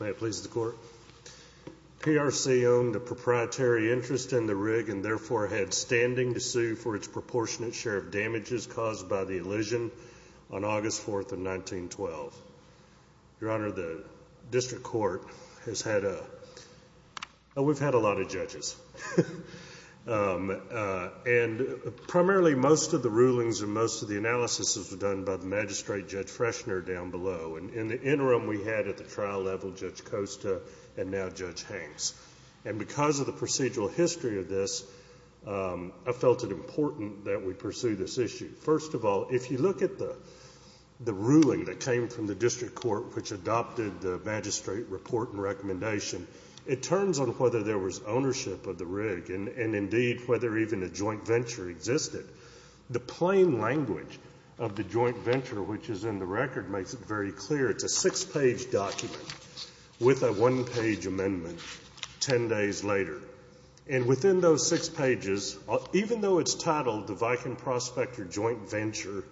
May it please the Court, PRC owned a proprietary interest in the rig and therefore had standing to sue for its proportionate share of damages caused by the elision on August 4th of 1912. Your Honor, the District Court has had a, we've had a lot of judges and primarily most of the rulings and most of the analysis was done by the Magistrate Judge Freshner down below and in the interim we had at the trial level Judge Costa and now Judge Hanks and because of the procedural history of this I felt it important that we pursue this issue. First of all, if you look at the ruling that came from the District Court which adopted the magistrate report and recommendation, it turns on whether there was ownership of the rig and indeed whether even a joint venture existed. The plain language of the joint venture which is in the record makes it very clear. It's a six page document with a one page amendment ten days later. And within those six pages, even though it's titled the Viking Prospector Joint Venture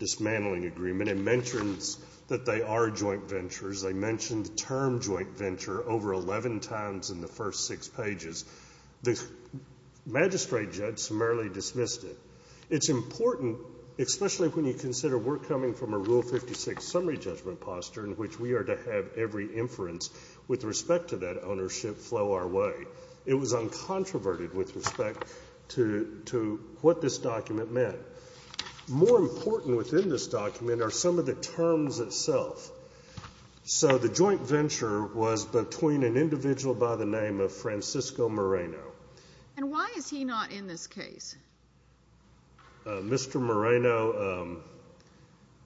Dismantling Agreement, it mentions that they are joint ventures. They mention the term joint venture over 11 times in the first six pages. The magistrate judge summarily dismissed it. It's important, especially when you consider we're coming from a Rule 56 summary judgment posture in which we are to have every inference with respect to that ownership flow our way. It was uncontroverted with respect to what this document meant. More important within this document are some of the terms itself. So the joint venture was between an individual by the name of Francisco Moreno. And why is he not in this case? Mr. Moreno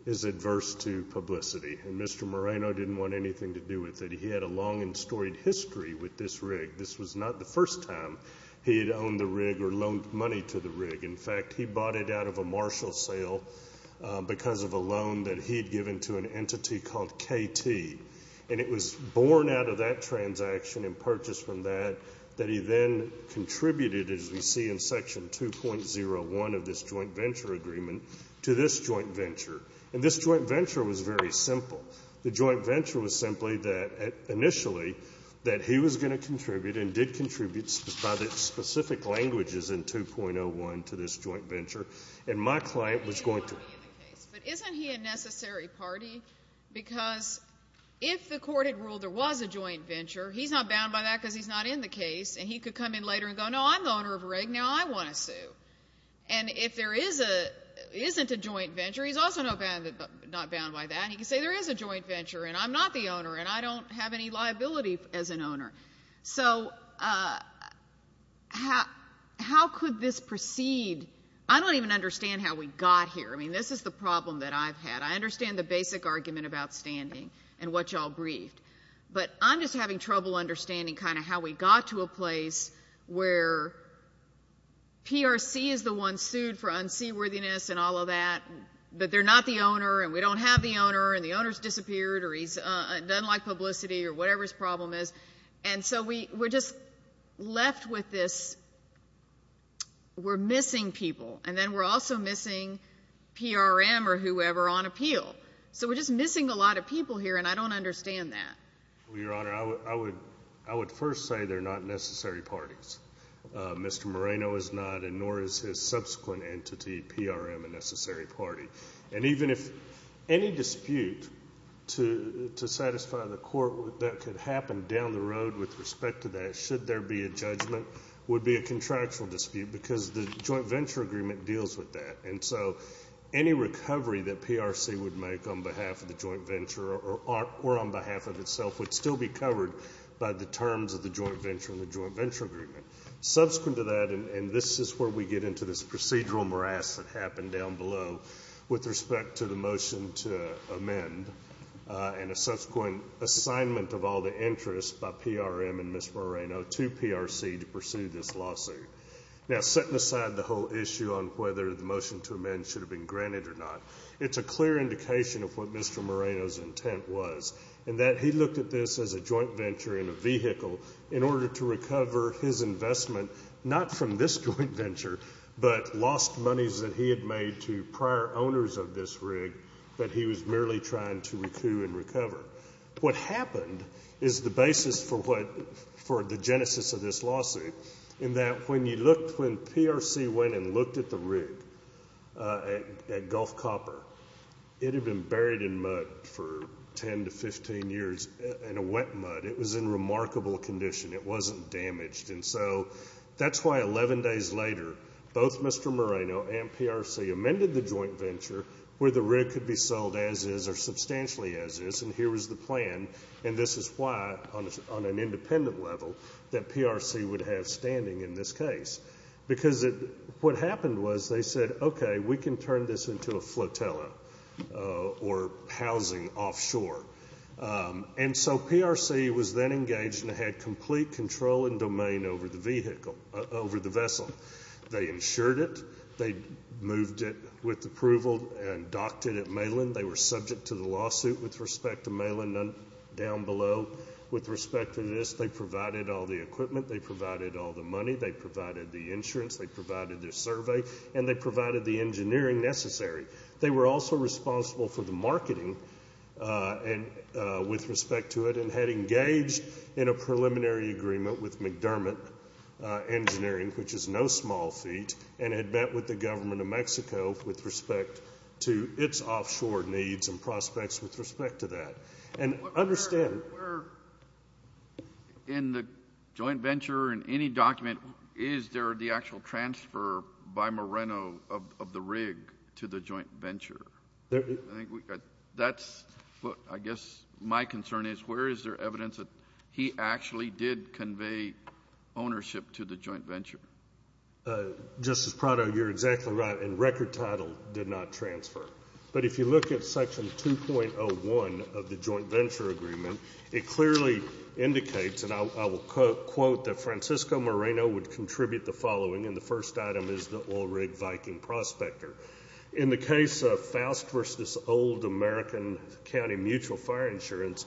is adverse to publicity and Mr. Moreno didn't want anything to do with it. He had a long storied history with this rig. This was not the first time he had owned the rig or loaned money to the rig. In fact, he bought it out of a Marshall sale because of a loan that he had given to an entity called KT. And it was born out of that transaction and purchased from that that he then contributed, as we see in section 2.01 of this joint venture agreement, to this joint venture. And this joint venture was very simple. The joint venture was simply that, initially, that he was going to contribute and did contribute by the specific languages in 2.01 to this joint venture. And my client was going to. But isn't he a necessary party? Because if the court had ruled there was a joint venture, he's not bound by that because he's not in the case. And he could come in later and go, no, I'm the owner of a rig. Now I want to sue. And if there isn't a joint venture, he's also not bound by that. And he could say, there is a joint venture, and I'm not the owner, and I don't have any liability as an owner. So how could this proceed? I don't even understand how we got here. I mean, this is the problem that I've had. I understand the basic argument about standing and what you all briefed. But I'm just having trouble understanding kind of how we got to a place where PRC is the one sued for unseaworthiness and all of that, but they're not the owner, and we don't have the owner, and the owner's disappeared, or he doesn't like publicity or whatever his problem is. And so we're just left with this. We're missing people. And then we're also missing PRM or whoever on appeal. So we're just missing a lot of people here, and I don't understand that. Well, Your Honor, I would first say they're not necessary parties. Mr. Moreno is not, and nor is his subsequent entity, PRM, a necessary party. And even if any dispute to satisfy the court that could happen down the road with respect to that, should there be a judgment, would be a contractual dispute, because the joint venture agreement deals with that. And so any recovery that PRC would make on behalf of the joint venture or on behalf of itself would still be covered by the terms of the joint venture and the joint venture agreement, and that's where we get into this procedural morass that happened down below with respect to the motion to amend and a subsequent assignment of all the interests by PRM and Ms. Moreno to PRC to pursue this lawsuit. Now, setting aside the whole issue on whether the motion to amend should have been granted or not, it's a clear indication of what Mr. Moreno's intent was, in that he looked at this as a joint venture in a vehicle in order to recover his investment, not from this joint venture, but lost monies that he had made to prior owners of this rig that he was merely trying to recoup and recover. What happened is the basis for what, for the genesis of this lawsuit, in that when you looked, when PRC went and looked at the rig at Gulf Copper, it had been buried in mud for 10 to 15 years in a wet mud. It was in remarkable condition. It wasn't damaged, and so that's why 11 days later, both Mr. Moreno and PRC amended the joint venture where the rig could be sold as is or substantially as is, and here was the plan, and this is why, on an independent level, that PRC would have standing in this case, because what happened was they said, okay, we can turn this into a flotilla or housing offshore, and so PRC was then engaged and had complete control and domain over the vessel. They insured it. They moved it with approval and docked it at Malin. They were subject to the lawsuit with respect to Malin down below. With respect to this, they provided all the equipment. They provided all the money. They provided the insurance. They provided their survey, and they provided the engineering necessary. They were also responsible for the marketing with respect to it and had engaged in a preliminary agreement with McDermott Engineering, which is no small feat, and had met with the government of Mexico with respect to its offshore needs and prospects with respect to that, and understand. In the joint venture, in any document, is there the actual transfer by Moreno of the oil rig to the joint venture? I guess my concern is, where is there evidence that he actually did convey ownership to the joint venture? Justice Prado, you're exactly right, and record title did not transfer, but if you look at section 2.01 of the joint venture agreement, it clearly indicates, and I will quote that Francisco Moreno would contribute the following, and the first item is the oil rig Viking Prospector. In the case of Faust v. Old American County Mutual Fire Insurance,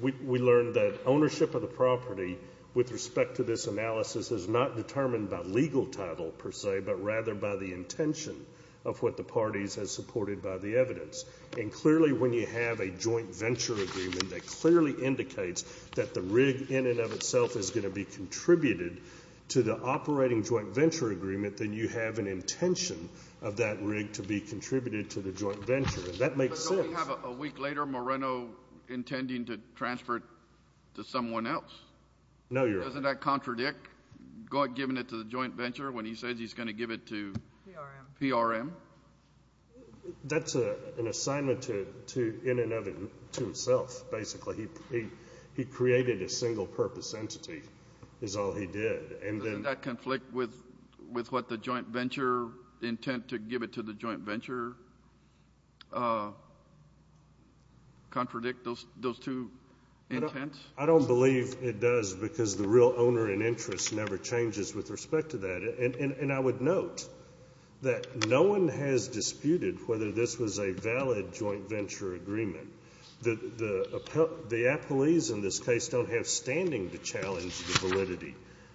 we learned that ownership of the property with respect to this analysis is not determined by legal title, per se, but rather by the intention of what the parties had supported by the evidence. And clearly when you have a joint venture agreement that clearly indicates that the rig in and of itself is going to be contributed to the operating joint venture agreement, then you have an intention of that rig to be contributed to the joint venture. That makes sense. But don't we have a week later Moreno intending to transfer it to someone else? No, Your Honor. Doesn't that contradict giving it to the joint venture when he says he's going to give it to PRM? That's an assignment to in and of itself, basically. He created a single purpose entity is all he did. Doesn't that conflict with what the joint venture intent to give it to the joint venture contradict those two intents? I don't believe it does because the real owner and interest never changes with respect to that. And I would note that no one has disputed whether this was a valid joint venture agreement. The appellees in this case don't have standing to challenge the validity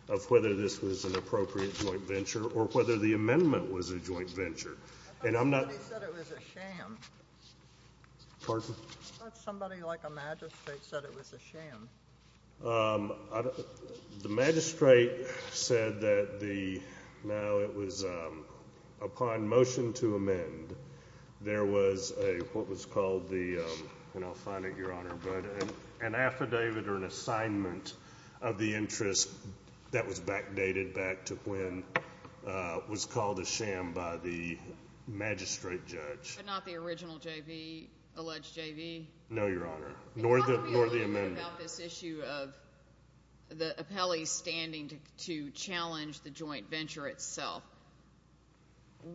of whether this was an appropriate joint venture or whether the amendment was a joint venture. I thought somebody said it was a sham. The magistrate said that the now it was upon motion to amend there was a what was called the, and I'll find it, Your Honor, but an affidavit or an assignment of the interest that was backdated back to when was called a sham by the magistrate judge. But not the original JV, alleged JV? No, Your Honor, nor the amendment. It's not really about this issue of the appellees standing to challenge the joint venture itself.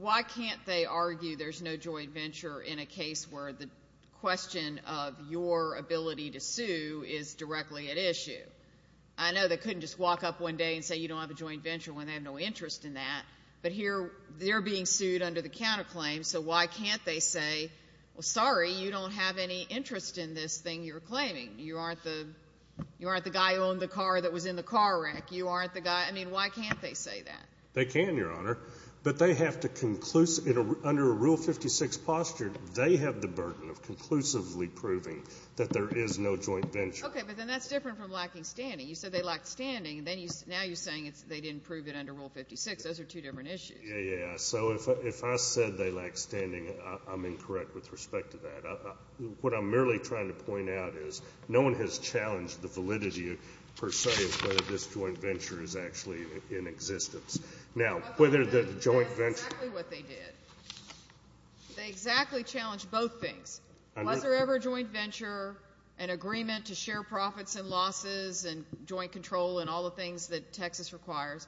Why can't they argue there's no joint venture in a case where the question of your ability to sue is directly at issue? I know they couldn't just walk up one day and say you don't have a joint venture when they have no interest in that, but here they're being sued under the counterclaim, so why can't they say, well, sorry, you don't have any interest in this thing you're claiming. You aren't the guy who owned the car that was in the car wreck. You aren't the guy, I mean, why can't they say that? They can, Your Honor, but they have to, under a Rule 56 posture, they have the burden of conclusively proving that there is no joint venture. Okay, but then that's different from lacking standing. You said they lacked standing, and now you're saying they didn't prove it under Rule 56. Those are two different issues. Yeah, yeah, yeah. So if I said they lacked standing, I'm incorrect with respect to that. What I'm merely trying to point out is no one has challenged the validity, per se, of whether this joint venture is actually in existence. Now, whether the joint venture... That's exactly what they did. They exactly challenged both things. Was there ever a joint venture, an agreement to share profits and losses and joint control and all the things that Texas requires,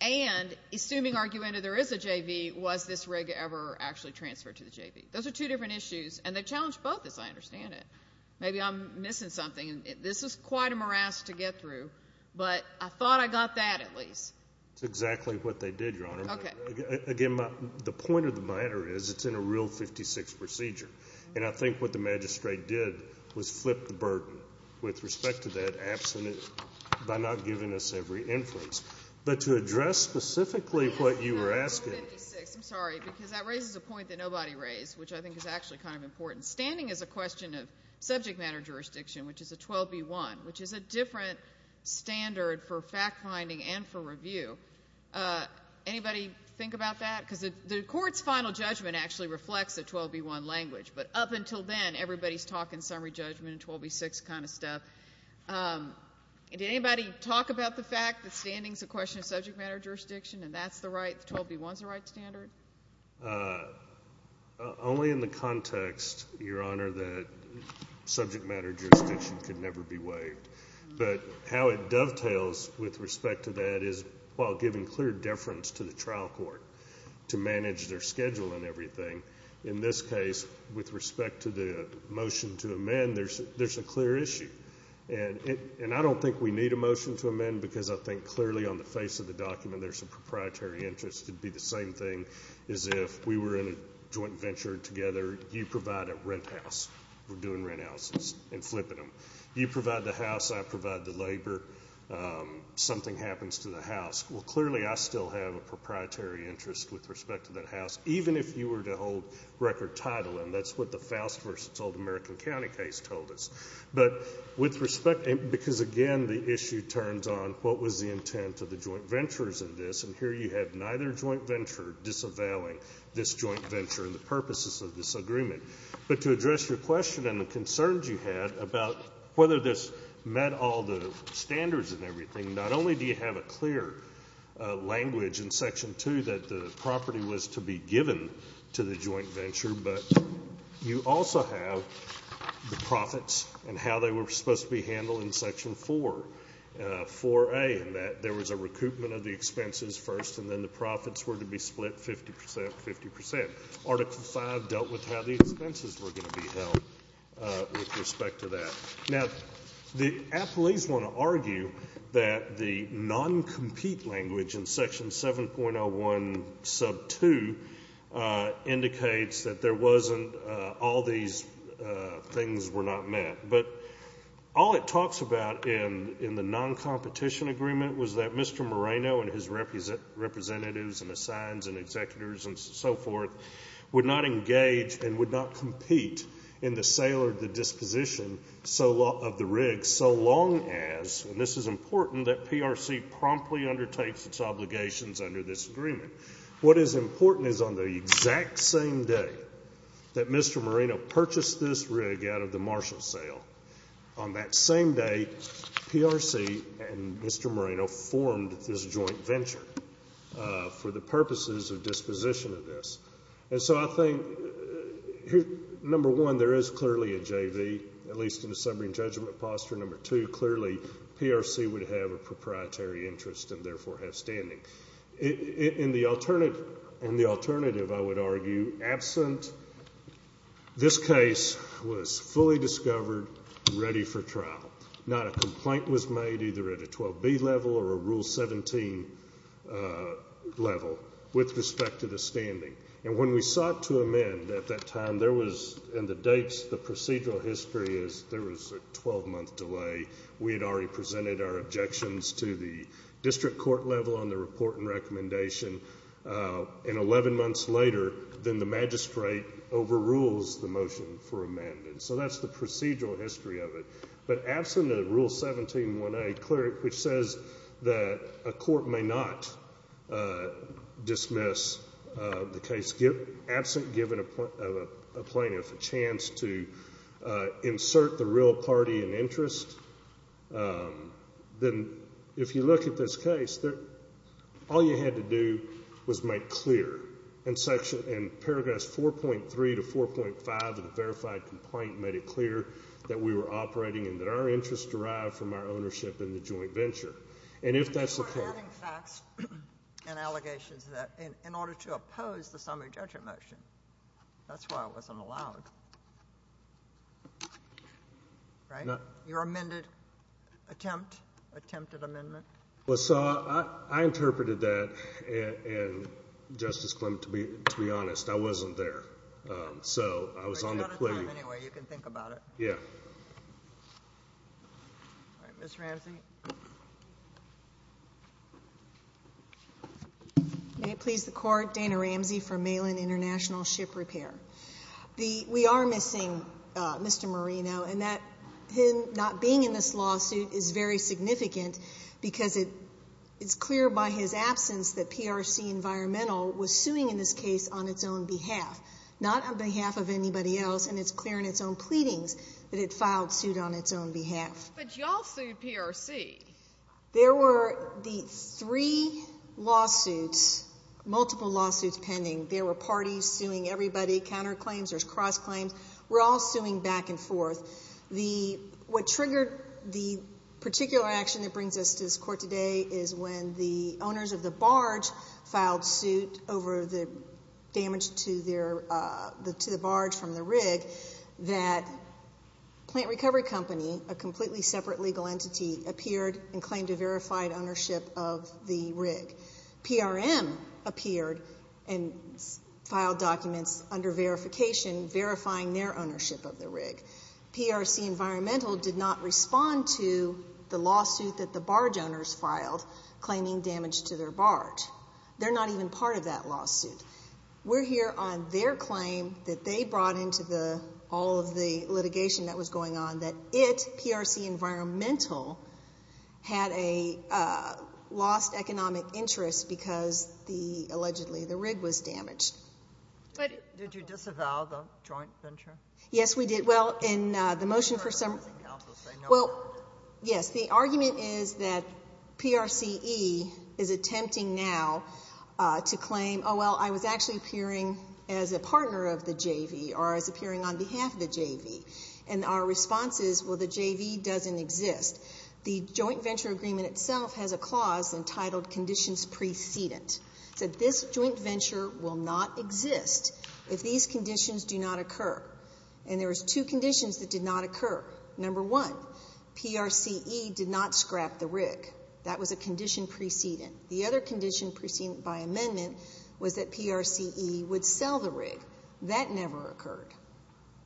and assuming argumentative there is a JV, was this rig ever actually transferred to the JV? Those are two different issues, and they challenged both, as I understand it. Maybe I'm missing something. This is quite a morass to get through, but I thought I got that at least. That's exactly what they did, Your Honor. Again, the point of the matter is it's in a Rule 56 procedure, and I think what the magistrate did was flip the burden with respect to that absent it by not giving us every influence. But to address specifically what you were asking... No, no, Rule 56. I'm sorry, because that raises a point that nobody raised, which I think is actually kind of important. Standing is a question of subject matter jurisdiction, which is a 12B1, which is a different standard for fact-finding and for review. Anybody think about that? Because the Court's final judgment actually reflects the 12B1 language, but up until then, everybody's talking summary judgment and 12B6 kind of stuff. Did anybody talk about the fact that standing is a question of subject matter jurisdiction and that's the right... 12B1 is the right standard? Only in the context, Your Honor, that subject matter jurisdiction could never be waived. But how it dovetails with respect to that is while giving clear deference to the trial court to manage their schedule and everything, in this case, with respect to the motion to amend, there's a clear issue. And I don't think we need a motion to amend because I think clearly on the face of the is if we were in a joint venture together, you provide a rent house. We're doing rent houses and flipping them. You provide the house, I provide the labor. Something happens to the house. Well, clearly, I still have a proprietary interest with respect to that house, even if you were to hold record title and that's what the Faust v. Old American County case told us. But with respect... Because again, the issue turns on what was the intent of the joint ventures in this and here you have neither joint venture disavowing this joint venture and the purposes of this agreement. But to address your question and the concerns you had about whether this met all the standards and everything, not only do you have a clear language in Section 2 that the property was to be given to the joint venture, but you also have the profits and how they were supposed to be handled in Section 4, 4A, and that there was a recoupment of the expenses first and then the profits were to be split 50 percent, 50 percent. Article 5 dealt with how the expenses were going to be held with respect to that. Now, the athletes want to argue that the non-compete language in Section 7.01 sub 2 indicates that there wasn't all these things were not met. But all it talks about in the non-competition agreement was that Mr. Moreno and his representatives and assigns and executors and so forth would not engage and would not compete in the sale or the disposition of the rig so long as, and this is important, that PRC promptly undertakes its obligations under this agreement. What is important is on the exact same day that Mr. Moreno purchased this rig out of the Marshall sale, on that same day PRC and Mr. Moreno formed this joint venture for the purposes of disposition of this. And so I think, number one, there is clearly a JV, at least in the summary and judgment posture. Number two, clearly PRC would have a proprietary interest and therefore have standing. In the alternative, I would argue, absent this case was fully discovered, ready for trial. Not a complaint was made either at a 12B level or a Rule 17 level with respect to the standing. And when we sought to amend at that time, there was, in the dates, the procedural history is there was a 12-month delay. We had already presented our objections to the district court level on the report and recommendation and 11 months later, then the magistrate overrules the motion for amendment. So that's the procedural history of it. But absent a Rule 17-1A, which says that a court may not dismiss the case, absent giving a plaintiff a chance to insert the real party and interest, then if you look at this case, all you had to do was make clear in paragraph 4.3 to 4.5 of the verified complaint made it clear that we were operating and that our interest derived from our ownership in the joint venture. And if that's the case... That's why it wasn't allowed. Right? Your amended attempt, attempted amendment? Well, so I interpreted that, and Justice Clement, to be honest, I wasn't there. So I was on the plea. But you got a time anyway. You can think about it. Yeah. All right. Ms. Ramsey. May it please the Court, Dana Ramsey from Malin International Ship Repair. We are missing Mr. Marino, and that him not being in this lawsuit is very significant because it's clear by his absence that PRC Environmental was suing in this case on its own behalf, not on behalf of anybody else. And it's clear in its own pleadings that it filed suit on its own behalf. But you all sued PRC. There were the three lawsuits, multiple lawsuits pending. There were parties suing everybody, counterclaims, there's cross-claims. We're all suing back and forth. What triggered the particular action that brings us to this Court today is when the owners of the barge filed suit over the damage to the barge from the rig that Plant Recovery Company, a completely separate legal entity, appeared and claimed a verified ownership of the rig. PRM appeared and filed documents under verification verifying their ownership of the rig. PRC Environmental did not respond to the lawsuit that the barge owners filed claiming damage to their barge. They're not even part of that lawsuit. We're here on their claim that they brought into all of the litigation that was going on that it, PRC Environmental, had a lost economic interest because the, allegedly, the rig was damaged. Did you disavow the joint venture? Yes, we did. Well, in the motion for some... Well, yes, the argument is that PRCE is attempting now to claim, oh, well, I was actually appearing as a partner of the JV or as appearing on behalf of the JV. And our response is, well, the JV doesn't exist. The joint venture agreement itself has a clause entitled conditions precedent. It said this joint venture will not exist if these conditions do not occur. And there was two conditions that did not occur. Number one, PRCE did not scrap the rig. That was a condition precedent. The other condition precedent by amendment was that PRCE would sell the rig. That never occurred.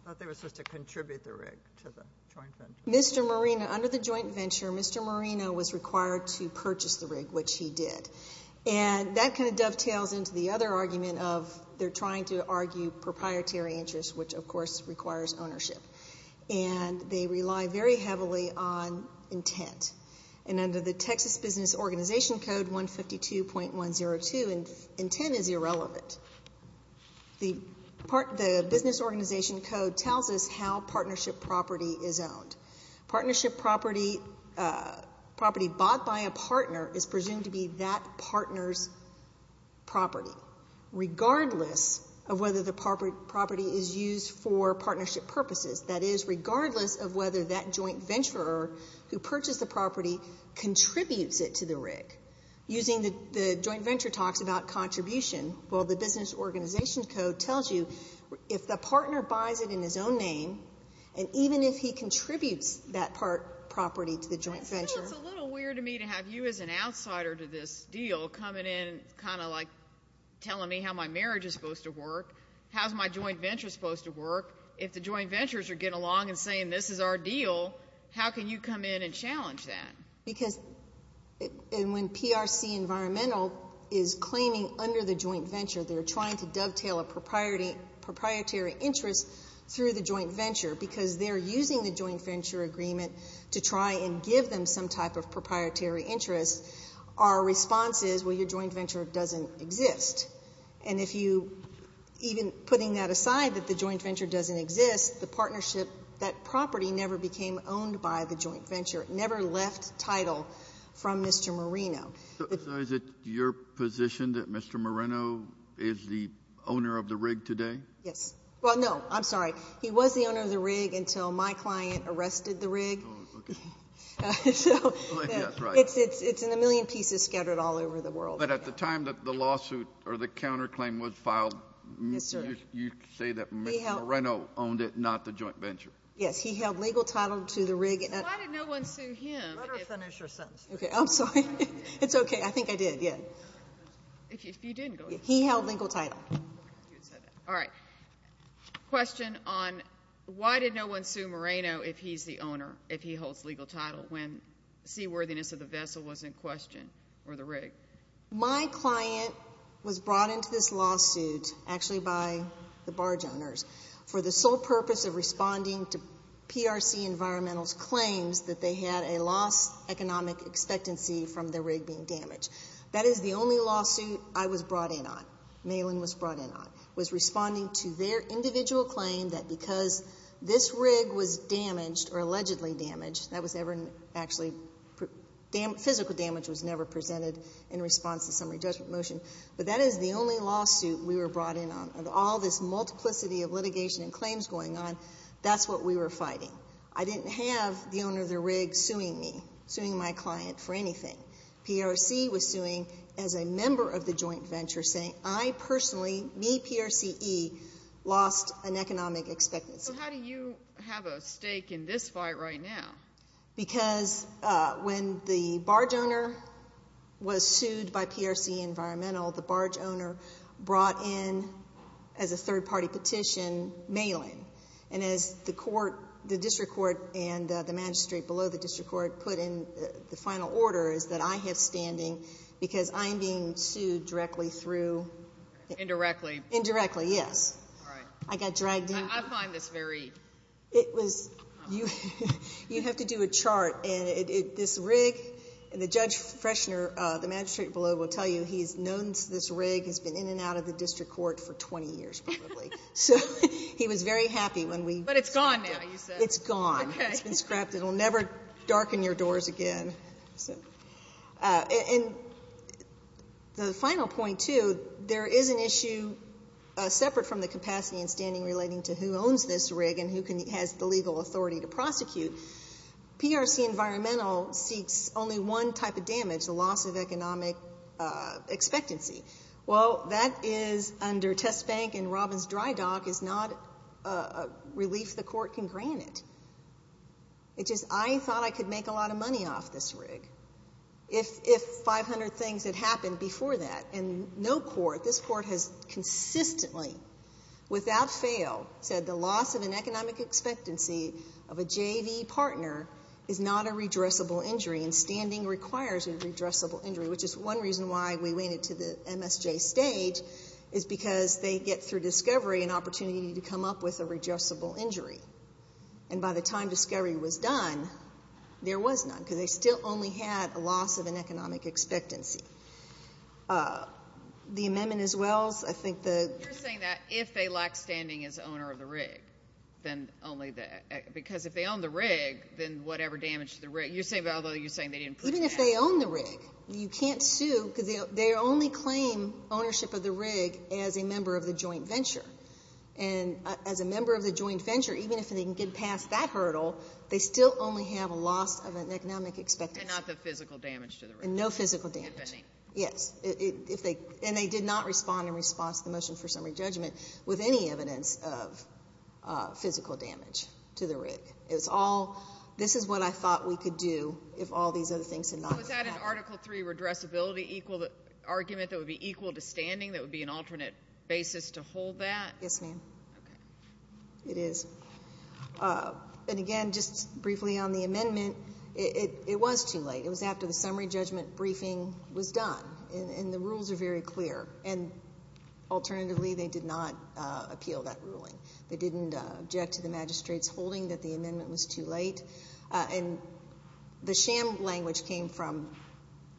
I thought they were supposed to contribute the rig to the joint venture. Mr. Moreno, under the joint venture, Mr. Moreno was required to purchase the rig, which he did. And that kind of dovetails into the other argument of they're trying to argue proprietary interest, which, of course, requires ownership. And they rely very heavily on intent. And under the Texas Business Organization Code 152.102, intent is irrelevant. The business organization code tells us how partnership property is owned. Partnership property bought by a partner is presumed to be that partner's property, regardless of whether the property is used for partnership purposes. That is, regardless of whether that joint venturer who purchased the property contributes it to the rig. Using the joint venture talks about contribution, well, the business organization code tells you if the partner buys it in his own name, and even if he contributes that property to the joint venture. It's a little weird to me to have you as an outsider to this deal coming in, kind of like telling me how my marriage is supposed to work, how's my joint venture supposed to work, if the joint ventures are getting along and saying this is our deal, how can you come in and challenge that? Because when PRC Environmental is claiming under the joint venture, they're trying to dovetail a proprietary interest through the joint venture, because they're using the joint venture agreement to try and give them some type of proprietary interest. Our response is, well, your joint venture doesn't exist. And if you, even putting that aside, that the joint venture doesn't exist, the partnership, that property never became owned by the joint venture. Never left title from Mr. Moreno. So is it your position that Mr. Moreno is the owner of the rig today? Yes. Well, no, I'm sorry. He was the owner of the rig until my client arrested the rig. Oh, okay. So it's in a million pieces scattered all over the world. But at the time that the lawsuit or the counterclaim was filed, you say that Mr. Moreno owned it, not the joint venture. Yes. He held legal title to the rig. Why did no one sue him? Let her finish her sentence. Okay. I'm sorry. It's okay. I think I did. Yeah. If you didn't go. He held legal title. All right. Question on why did no one sue Moreno if he's the owner, if he holds legal title when seaworthiness of the vessel was in question or the rig? My client was brought into this lawsuit actually by the barge owners for the sole purpose of responding to PRC Environmental's claims that they had a lost economic expectancy from the rig being damaged. That is the only lawsuit I was brought in on, Malin was brought in on, was responding to their individual claim that because this rig was damaged or allegedly damaged, that was ever actually, physical damage was never presented in response to summary judgment motion. But that is the only lawsuit we were brought in on. All this multiplicity of litigation and claims going on, that's what we were fighting. I didn't have the owner of the rig suing me, suing my client for anything. PRC was suing as a member of the joint venture saying, I personally, me PRCE, lost an economic expectancy. So how do you have a stake in this fight right now? Because when the barge owner was sued by PRC Environmental, the barge owner brought in as a third party petition, Malin. And as the court, the district court and the magistrate below the district court put in the final order is that I have standing because I am being sued directly through. Indirectly. Indirectly, yes. All right. I got dragged in. I find this very. It was, you have to do a chart and this rig and the judge freshener, the magistrate below will tell you he's known this rig has been in and out of the district court for 20 years probably. So he was very happy when we. But it's gone now, you said. It's gone. It's been scrapped. It will never darken your doors again. And the final point too, there is an issue separate from the capacity and standing relating to who owns this rig and who has the legal authority to prosecute, PRC Environmental seeks only one type of damage, the loss of economic expectancy. Well, that is under test bank and Robbins dry dock is not a relief the court can grant it. It's just I thought I could make a lot of money off this rig if 500 things had happened before that. And no court, this court has consistently without fail said the loss of an economic expectancy of a JV partner is not a redressable injury and standing requires a redressable injury, which is one reason why we waited to the MSJ stage is because they get through discovery and opportunity to come up with a redressable injury. And by the time discovery was done, there was none because they still only had a loss of an economic expectancy. The amendment as well, I think that you're saying that if they lack standing as owner of the rig, then only that, because if they own the rig, then whatever damage the rig, you're saying, although you're saying they didn't, even if they own the rig, you can't sue because they only claim ownership of the rig as a member of the joint venture. And as a member of the joint venture, even if they can get past that hurdle, they still only have a loss of an economic expectancy. And not the physical damage to the rig. And no physical damage. If any. Yes. And they did not respond in response to the motion for summary judgment with any evidence of physical damage to the rig. This is what I thought we could do if all these other things had not happened. Was that an Article III redressability argument that would be equal to standing, that would be an alternate basis to hold that? Yes, ma'am. Okay. It is. It is. And again, just briefly on the amendment, it was too late. It was after the summary judgment briefing was done, and the rules are very clear. And alternatively, they did not appeal that ruling. They didn't object to the magistrate's holding that the amendment was too late. And the sham language came from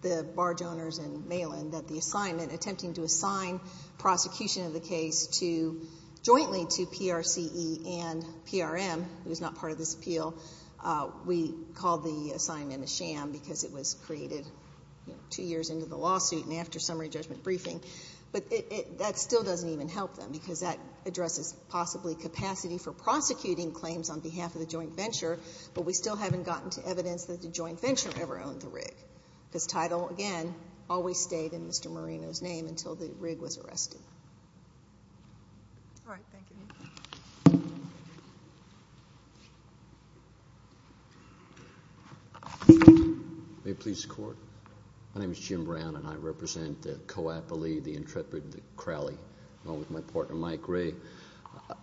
the barge owners in Malin that the assignment, attempting to assign prosecution of the case jointly to PRCE and PRM, who is not part of this appeal, we called the assignment a sham because it was created two years into the lawsuit and after summary judgment briefing. But that still doesn't even help them because that addresses possibly capacity for prosecuting claims on behalf of the joint venture, but we still haven't gotten to evidence that the joint venture ever owned the rig. Because title, again, always stayed in Mr. Marino's name until the rig was arrested. All right. Thank you, ma'am. May it please the Court? My name is Jim Brown, and I represent the co-appellee, the intrepid, the Crowley, along with my partner, Mike Gray.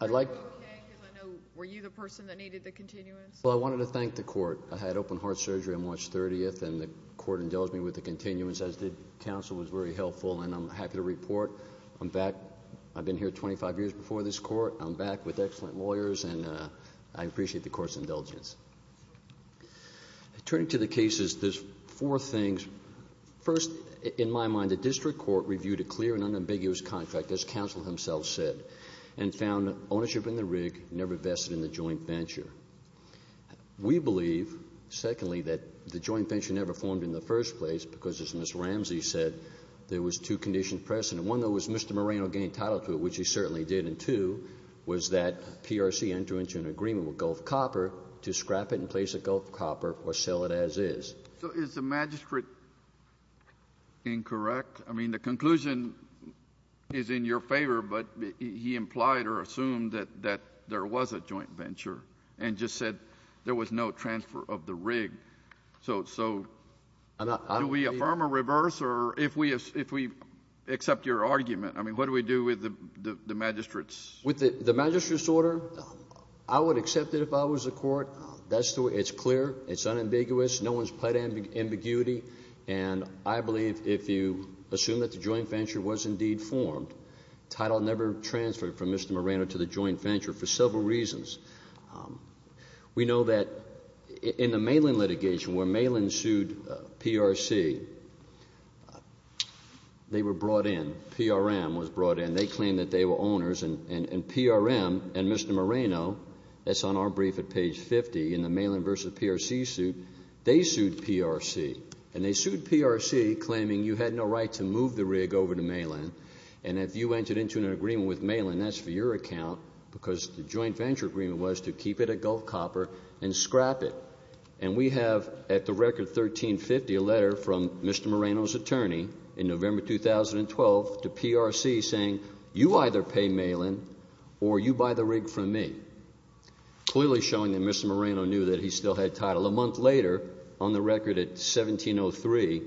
I'd like— Are you okay? Because I know—were you the person that needed the continuance? Well, I wanted to thank the Court. I had an open-heart surgery on March 30th. I had an open-heart surgery on March 30th. The Court indulged me with the continuance as did counsel. It was very helpful, and I'm happy to report I'm back. I've been here 25 years before this Court. I'm back with excellent lawyers, and I appreciate the Court's indulgence. Turning to the cases, there's four things. First, in my mind, the district court reviewed a clear and unambiguous contract, as counsel himself said, and found ownership in the rig never vested in the joint venture. We believe, secondly, that the joint venture never formed in the first place because, as Ms. Ramsey said, there was two conditions present. One, though, was Mr. Moreno gained title to it, which he certainly did. And two was that PRC entered into an agreement with Gulf Copper to scrap it and place it at Gulf Copper or sell it as is. So is the magistrate incorrect? I mean, the conclusion is in your favor, but he implied or assumed that there was a joint venture. And just said there was no transfer of the rig. So do we affirm or reverse? Or if we accept your argument, I mean, what do we do with the magistrate's? With the magistrate's order, I would accept it if I was the Court. It's clear. It's unambiguous. No one's pled ambiguity. And I believe if you assume that the joint venture was indeed formed, title never transferred from Mr. Moreno to the joint venture for several reasons. We know that in the Malin litigation where Malin sued PRC, they were brought in. PRM was brought in. They claimed that they were owners. And PRM and Mr. Moreno, that's on our brief at page 50, in the Malin versus PRC suit, they sued PRC. And they sued PRC claiming you had no right to move the rig over to Malin. And if you entered into an agreement with Malin, that's for your account because the agreement was to keep it at Gulf Copper and scrap it. And we have at the record 1350 a letter from Mr. Moreno's attorney in November 2012 to PRC saying you either pay Malin or you buy the rig from me. Clearly showing that Mr. Moreno knew that he still had title. A month later, on the record at 1703,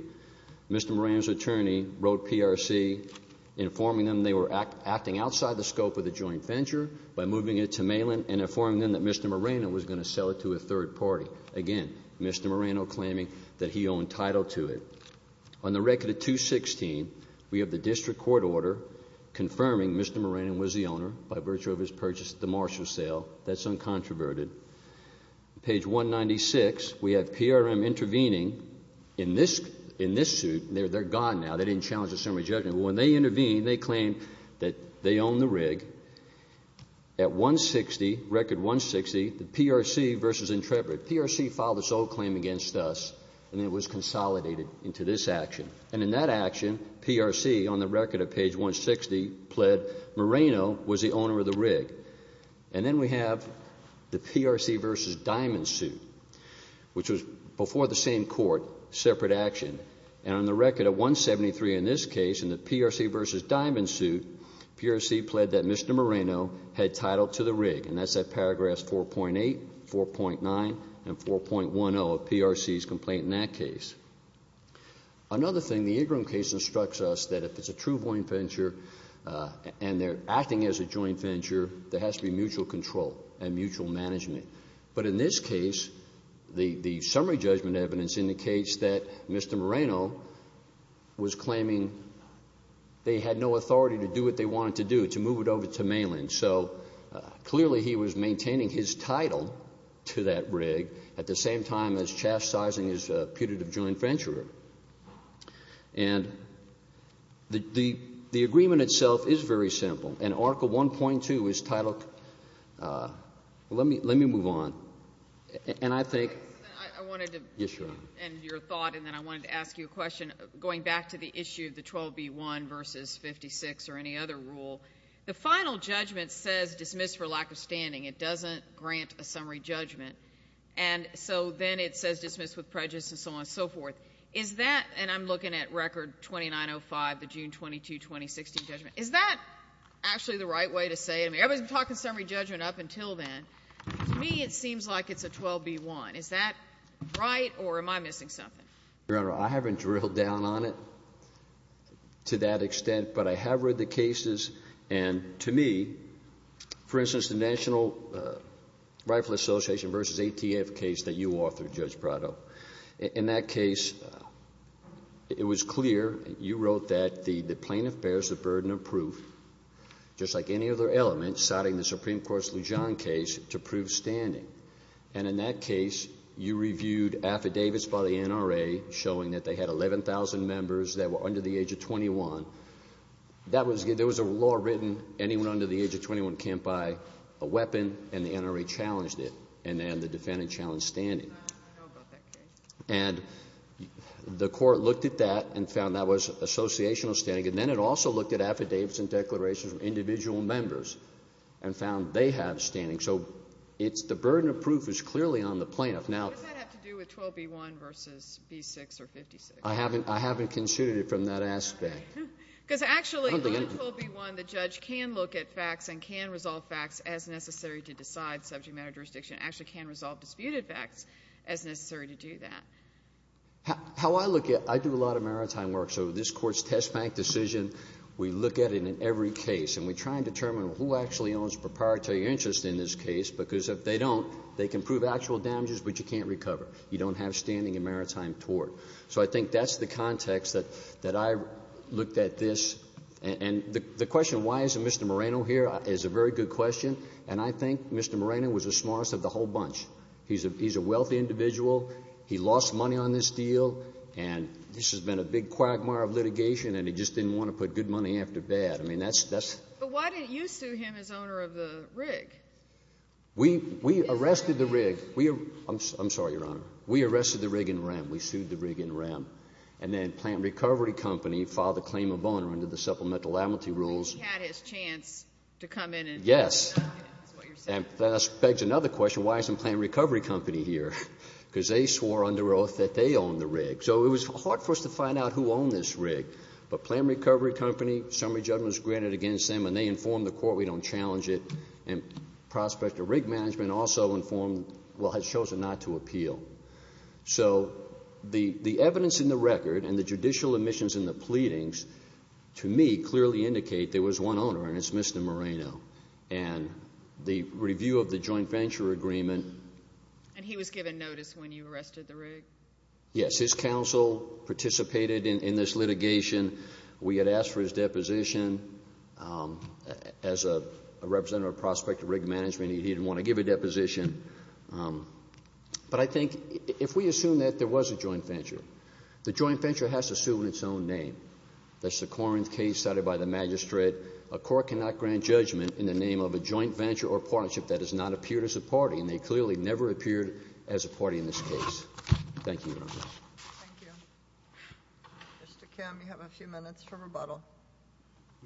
Mr. Moreno's attorney wrote PRC informing them they were acting outside the scope of the joint venture by moving it to Malin and informing them that Mr. Moreno was going to sell it to a third party. Again, Mr. Moreno claiming that he owned title to it. On the record at 216, we have the district court order confirming Mr. Moreno was the owner by virtue of his purchase at the Marshall sale. That's uncontroverted. Page 196, we have PRM intervening in this suit. They're gone now. They didn't challenge the summary judgment. When they intervened, they claimed that they owned the rig. At 160, record 160, the PRC versus Intrepid. PRC filed its own claim against us and it was consolidated into this action. And in that action, PRC, on the record at page 160, pled Moreno was the owner of the rig. And then we have the PRC versus Diamond suit, which was before the same court, separate action. And on the record at 173 in this case, in the PRC versus Diamond suit, PRC pled that Mr. Moreno had title to the rig. And that's at paragraphs 4.8, 4.9, and 4.10 of PRC's complaint in that case. Another thing, the Ingram case instructs us that if it's a true joint venture and they're acting as a joint venture, there has to be mutual control and mutual management. But in this case, the summary judgment evidence indicates that Mr. Moreno was claiming they had no authority to do what they wanted to do, to move it over to Malin. So clearly he was maintaining his title to that rig at the same time as chastising his putative joint venture. And the agreement itself is very simple. And article 1.2 is titled... Let me move on. And I think... I wanted to end your thought and then I wanted to ask you a question. Going back to the issue of the 12B1 versus 56 or any other rule, the final judgment says dismiss for lack of standing. It doesn't grant a summary judgment. And so then it says dismiss with prejudice and so on and so forth. Is that, and I'm looking at record 2905, the June 22, 2016 judgment, is that actually the right way to say it? I mean, everybody's been talking summary judgment up until then. To me, it seems like it's a 12B1. Is that right or am I missing something? Your Honor, I haven't drilled down on it to that extent, but I have read the cases and to me, for instance, the National Rifle Association versus ATF case that you authored, Judge Prado, in that case, it was clear. You wrote that the plaintiff bears the burden of proof, just like any other element citing the Supreme Court's Lujan case, to prove standing. And in that case, you reviewed affidavits by the NRA showing that they had 11,000 members that were under the age of 21. That was, there was a law written, anyone under the age of 21 can't buy a weapon and the NRA challenged it and then the defendant challenged standing. I don't know about that case. And the court looked at that and found that was associational standing and then it also looked at affidavits and declarations of individual members and found they have standing. So the burden of proof is clearly on the plaintiff. What does that have to do with 12B1 versus B6 or 56? I haven't considered it from that aspect. Because actually under 12B1, the judge can look at facts and can resolve facts as necessary to decide subject matter jurisdiction, actually can resolve disputed facts as necessary to do that. How I look at it, I do a lot of maritime work. So this Court's test bank decision, we look at it in every case and we try and determine who actually owns proprietary interest in this case, because if they don't, they can prove actual damages, but you can't recover. You don't have standing in maritime tort. So I think that's the context that I looked at this. And the question, why isn't Mr. Moreno here, is a very good question. And I think Mr. Moreno was the smartest of the whole bunch. He's a wealthy individual. He lost money on this deal. And this has been a big quagmire of litigation, and he just didn't want to put good money after bad. But why didn't you sue him as owner of the rig? We arrested the rig. I'm sorry, Your Honor. We arrested the rig in rem. We sued the rig in rem. And then Plant Recovery Company filed a claim of owner under the supplemental amnesty rules. So he had his chance to come in. Yes. And that begs another question. Why isn't Plant Recovery Company here? Because they swore under oath that they owned the rig. So it was hard for us to find out who owned this rig. But Plant Recovery Company, summary judgment was granted against them, and they informed the court we don't challenge it. And Prospector Rig Management also informed, well, has chosen not to appeal. So the evidence in the record and the judicial admissions in the pleadings, to me, clearly indicate there was one owner, and it's Mr. Moreno. And the review of the joint venture agreement. And he was given notice when you arrested the rig? Yes. His counsel participated in this litigation. We had asked for his deposition. As a representative of Prospector Rig Management, he didn't want to give a deposition. But I think if we assume that there was a joint venture, The joint venture has to assume its own name. That's the Corinth case cited by the magistrate. A court cannot grant judgment in the name of a joint venture or partnership that has not appeared as a party. And they clearly never appeared as a party in this case. Thank you, Your Honor. Thank you. Mr. Kim, you have a few minutes for rebuttal.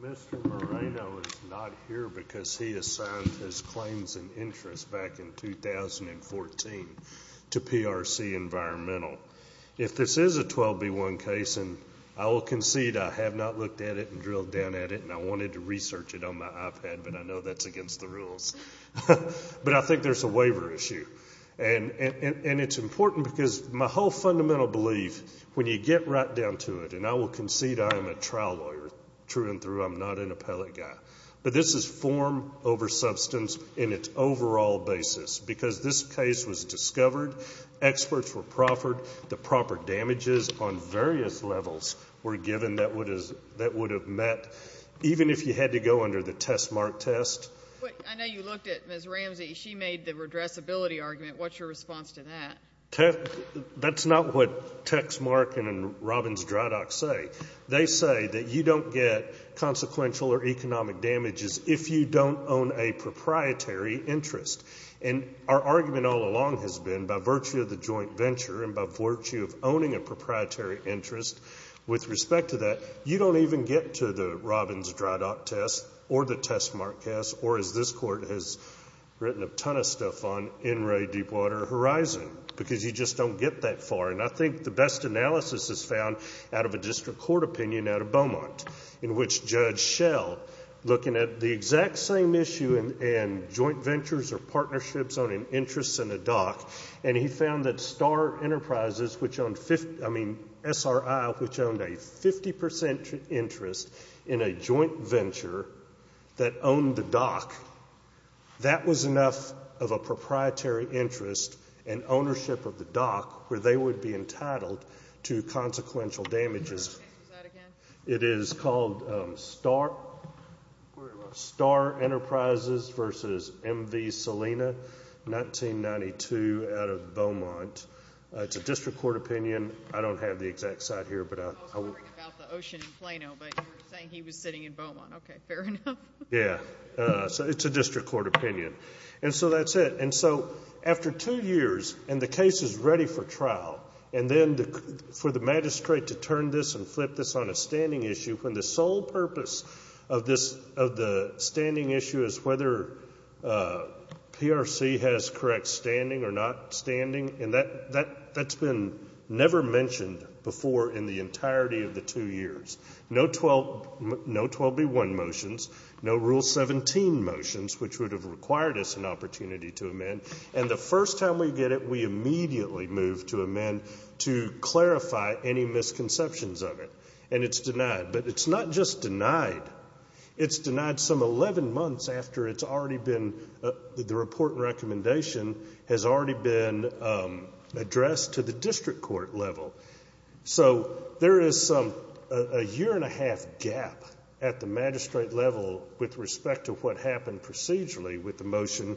Mr. Moreno is not here because he assigned his claims and interest back in 2014 to PRC Environmental. If this is a 12B1 case, and I will concede I have not looked at it and drilled down at it and I wanted to research it on my iPad, but I know that's against the rules. But I think there's a waiver issue. And it's important because my whole fundamental belief, when you get right down to it, and I will concede I am a trial lawyer, true and true, I'm not an appellate guy. But this is form over substance in its overall basis. Because this case was discovered, experts were proffered, the proper damages on various levels were given that would have met, even if you had to go under the test mark test. I know you looked at Ms. Ramsey. She made the redressability argument. What's your response to that? That's not what Tex Mark and Robbins Dry Dock say. They say that you don't get consequential or economic damages if you don't own a proprietary interest. And our argument all along has been, by virtue of the joint venture and by virtue of owning a proprietary interest, with respect to that, you don't even get to the Robbins Dry Dock test or the test mark test, or as this court has written a ton of stuff on, NRA Deepwater Horizon. Because you just don't get that far. And I think the best analysis is found out of a district court opinion out of Beaumont, in which Judge Schell, looking at the exact same issue and joint ventures or partnerships on an interest in a dock, and he found that Star Enterprises, which owned 50, I mean SRI, which owned a 50% interest in a joint venture that owned the dock, that was enough of a proprietary interest and ownership of the dock where they would be entitled to consequential damages. Is that again? It is called Star Enterprises versus M.V. Salina, 1992, out of Beaumont. It's a district court opinion. I don't have the exact site here, but I will. I was wondering about the ocean in Plano, but you were saying he was sitting in Beaumont. Okay, fair enough. Yeah. So it's a district court opinion. And so after two years, and the case is ready for trial, and then for the magistrate to turn this and flip this on a standing issue when the sole purpose of the standing issue is whether PRC has correct standing or not standing, and that's been never mentioned before in the entirety of the two years. No 12B1 motions, no Rule 17 motions, which would have required us an opportunity to amend, and the first time we get it, we immediately move to amend to clarify any misconceptions of it. And it's denied. But it's not just denied. It's denied some 11 months after it's already been, the report and recommendation has already been addressed to the district court level. So there is a year and a half gap at the magistrate level with respect to what happened procedurally with the motion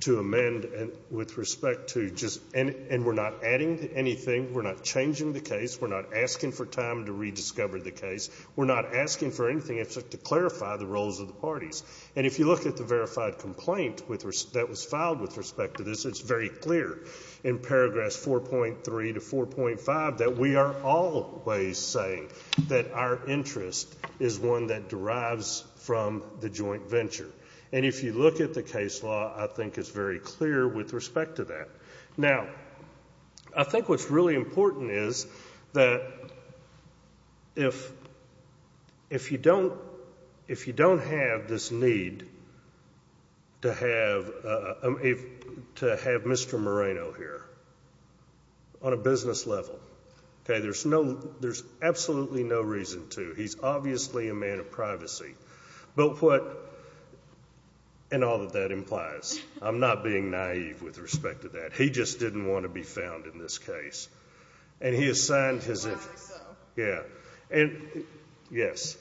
to amend with respect to just, and we're not adding anything, we're not changing the case, we're not asking for time to rediscover the case, we're not asking for anything except to clarify the roles of the parties. And if you look at the verified complaint that was filed with respect to this, it's very clear in paragraph 4.3 to 4.5 that we are always saying that our interest is one that derives from the joint venture. And if you look at the case law, I think it's very clear with respect to that. Now, I think what's really important is that if you don't have this need to have Mr. Moreno here on a business level, there's absolutely no reason to. He's obviously a man of privacy. But what, and all that that implies. I'm not being naive with respect to that. He just didn't want to be found in this case. And he assigned his interest. I don't think so. Yeah. And, yes.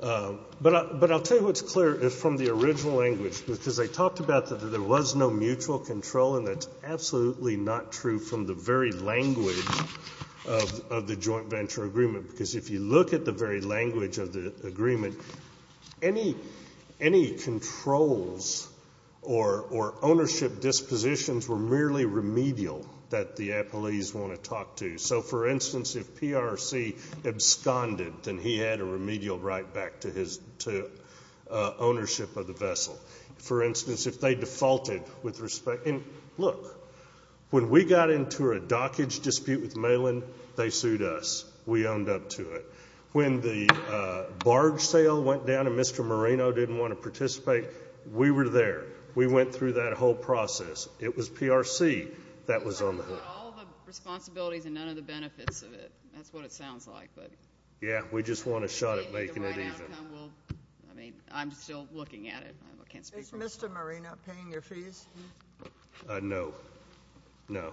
But I'll tell you what's clear is from the original language, because they talked about that there was no mutual control and that's absolutely not true from the very language of the joint venture agreement. Because if you look at the very language of the agreement, any controls or ownership dispositions were merely remedial that the appellees want to talk to. So, for instance, if PRC absconded, then he had a remedial right back to ownership of the vessel. For instance, if they defaulted with respect, and look, when we got into a dockage dispute with Malin, they sued us. We owned up to it. When the barge sale went down and Mr. Marino didn't want to participate, we were there. We went through that whole process. It was PRC that was on the hook. But all the responsibilities and none of the benefits of it. That's what it sounds like. Yeah. We just want a shot at making it even. I mean, I'm still looking at it. Is Mr. Marino paying your fees? No. No.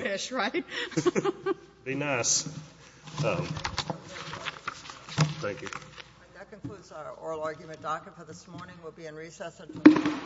Fish, right? Be nice. Thank you. That concludes our oral argument docket for this morning. We'll be in recess until tomorrow.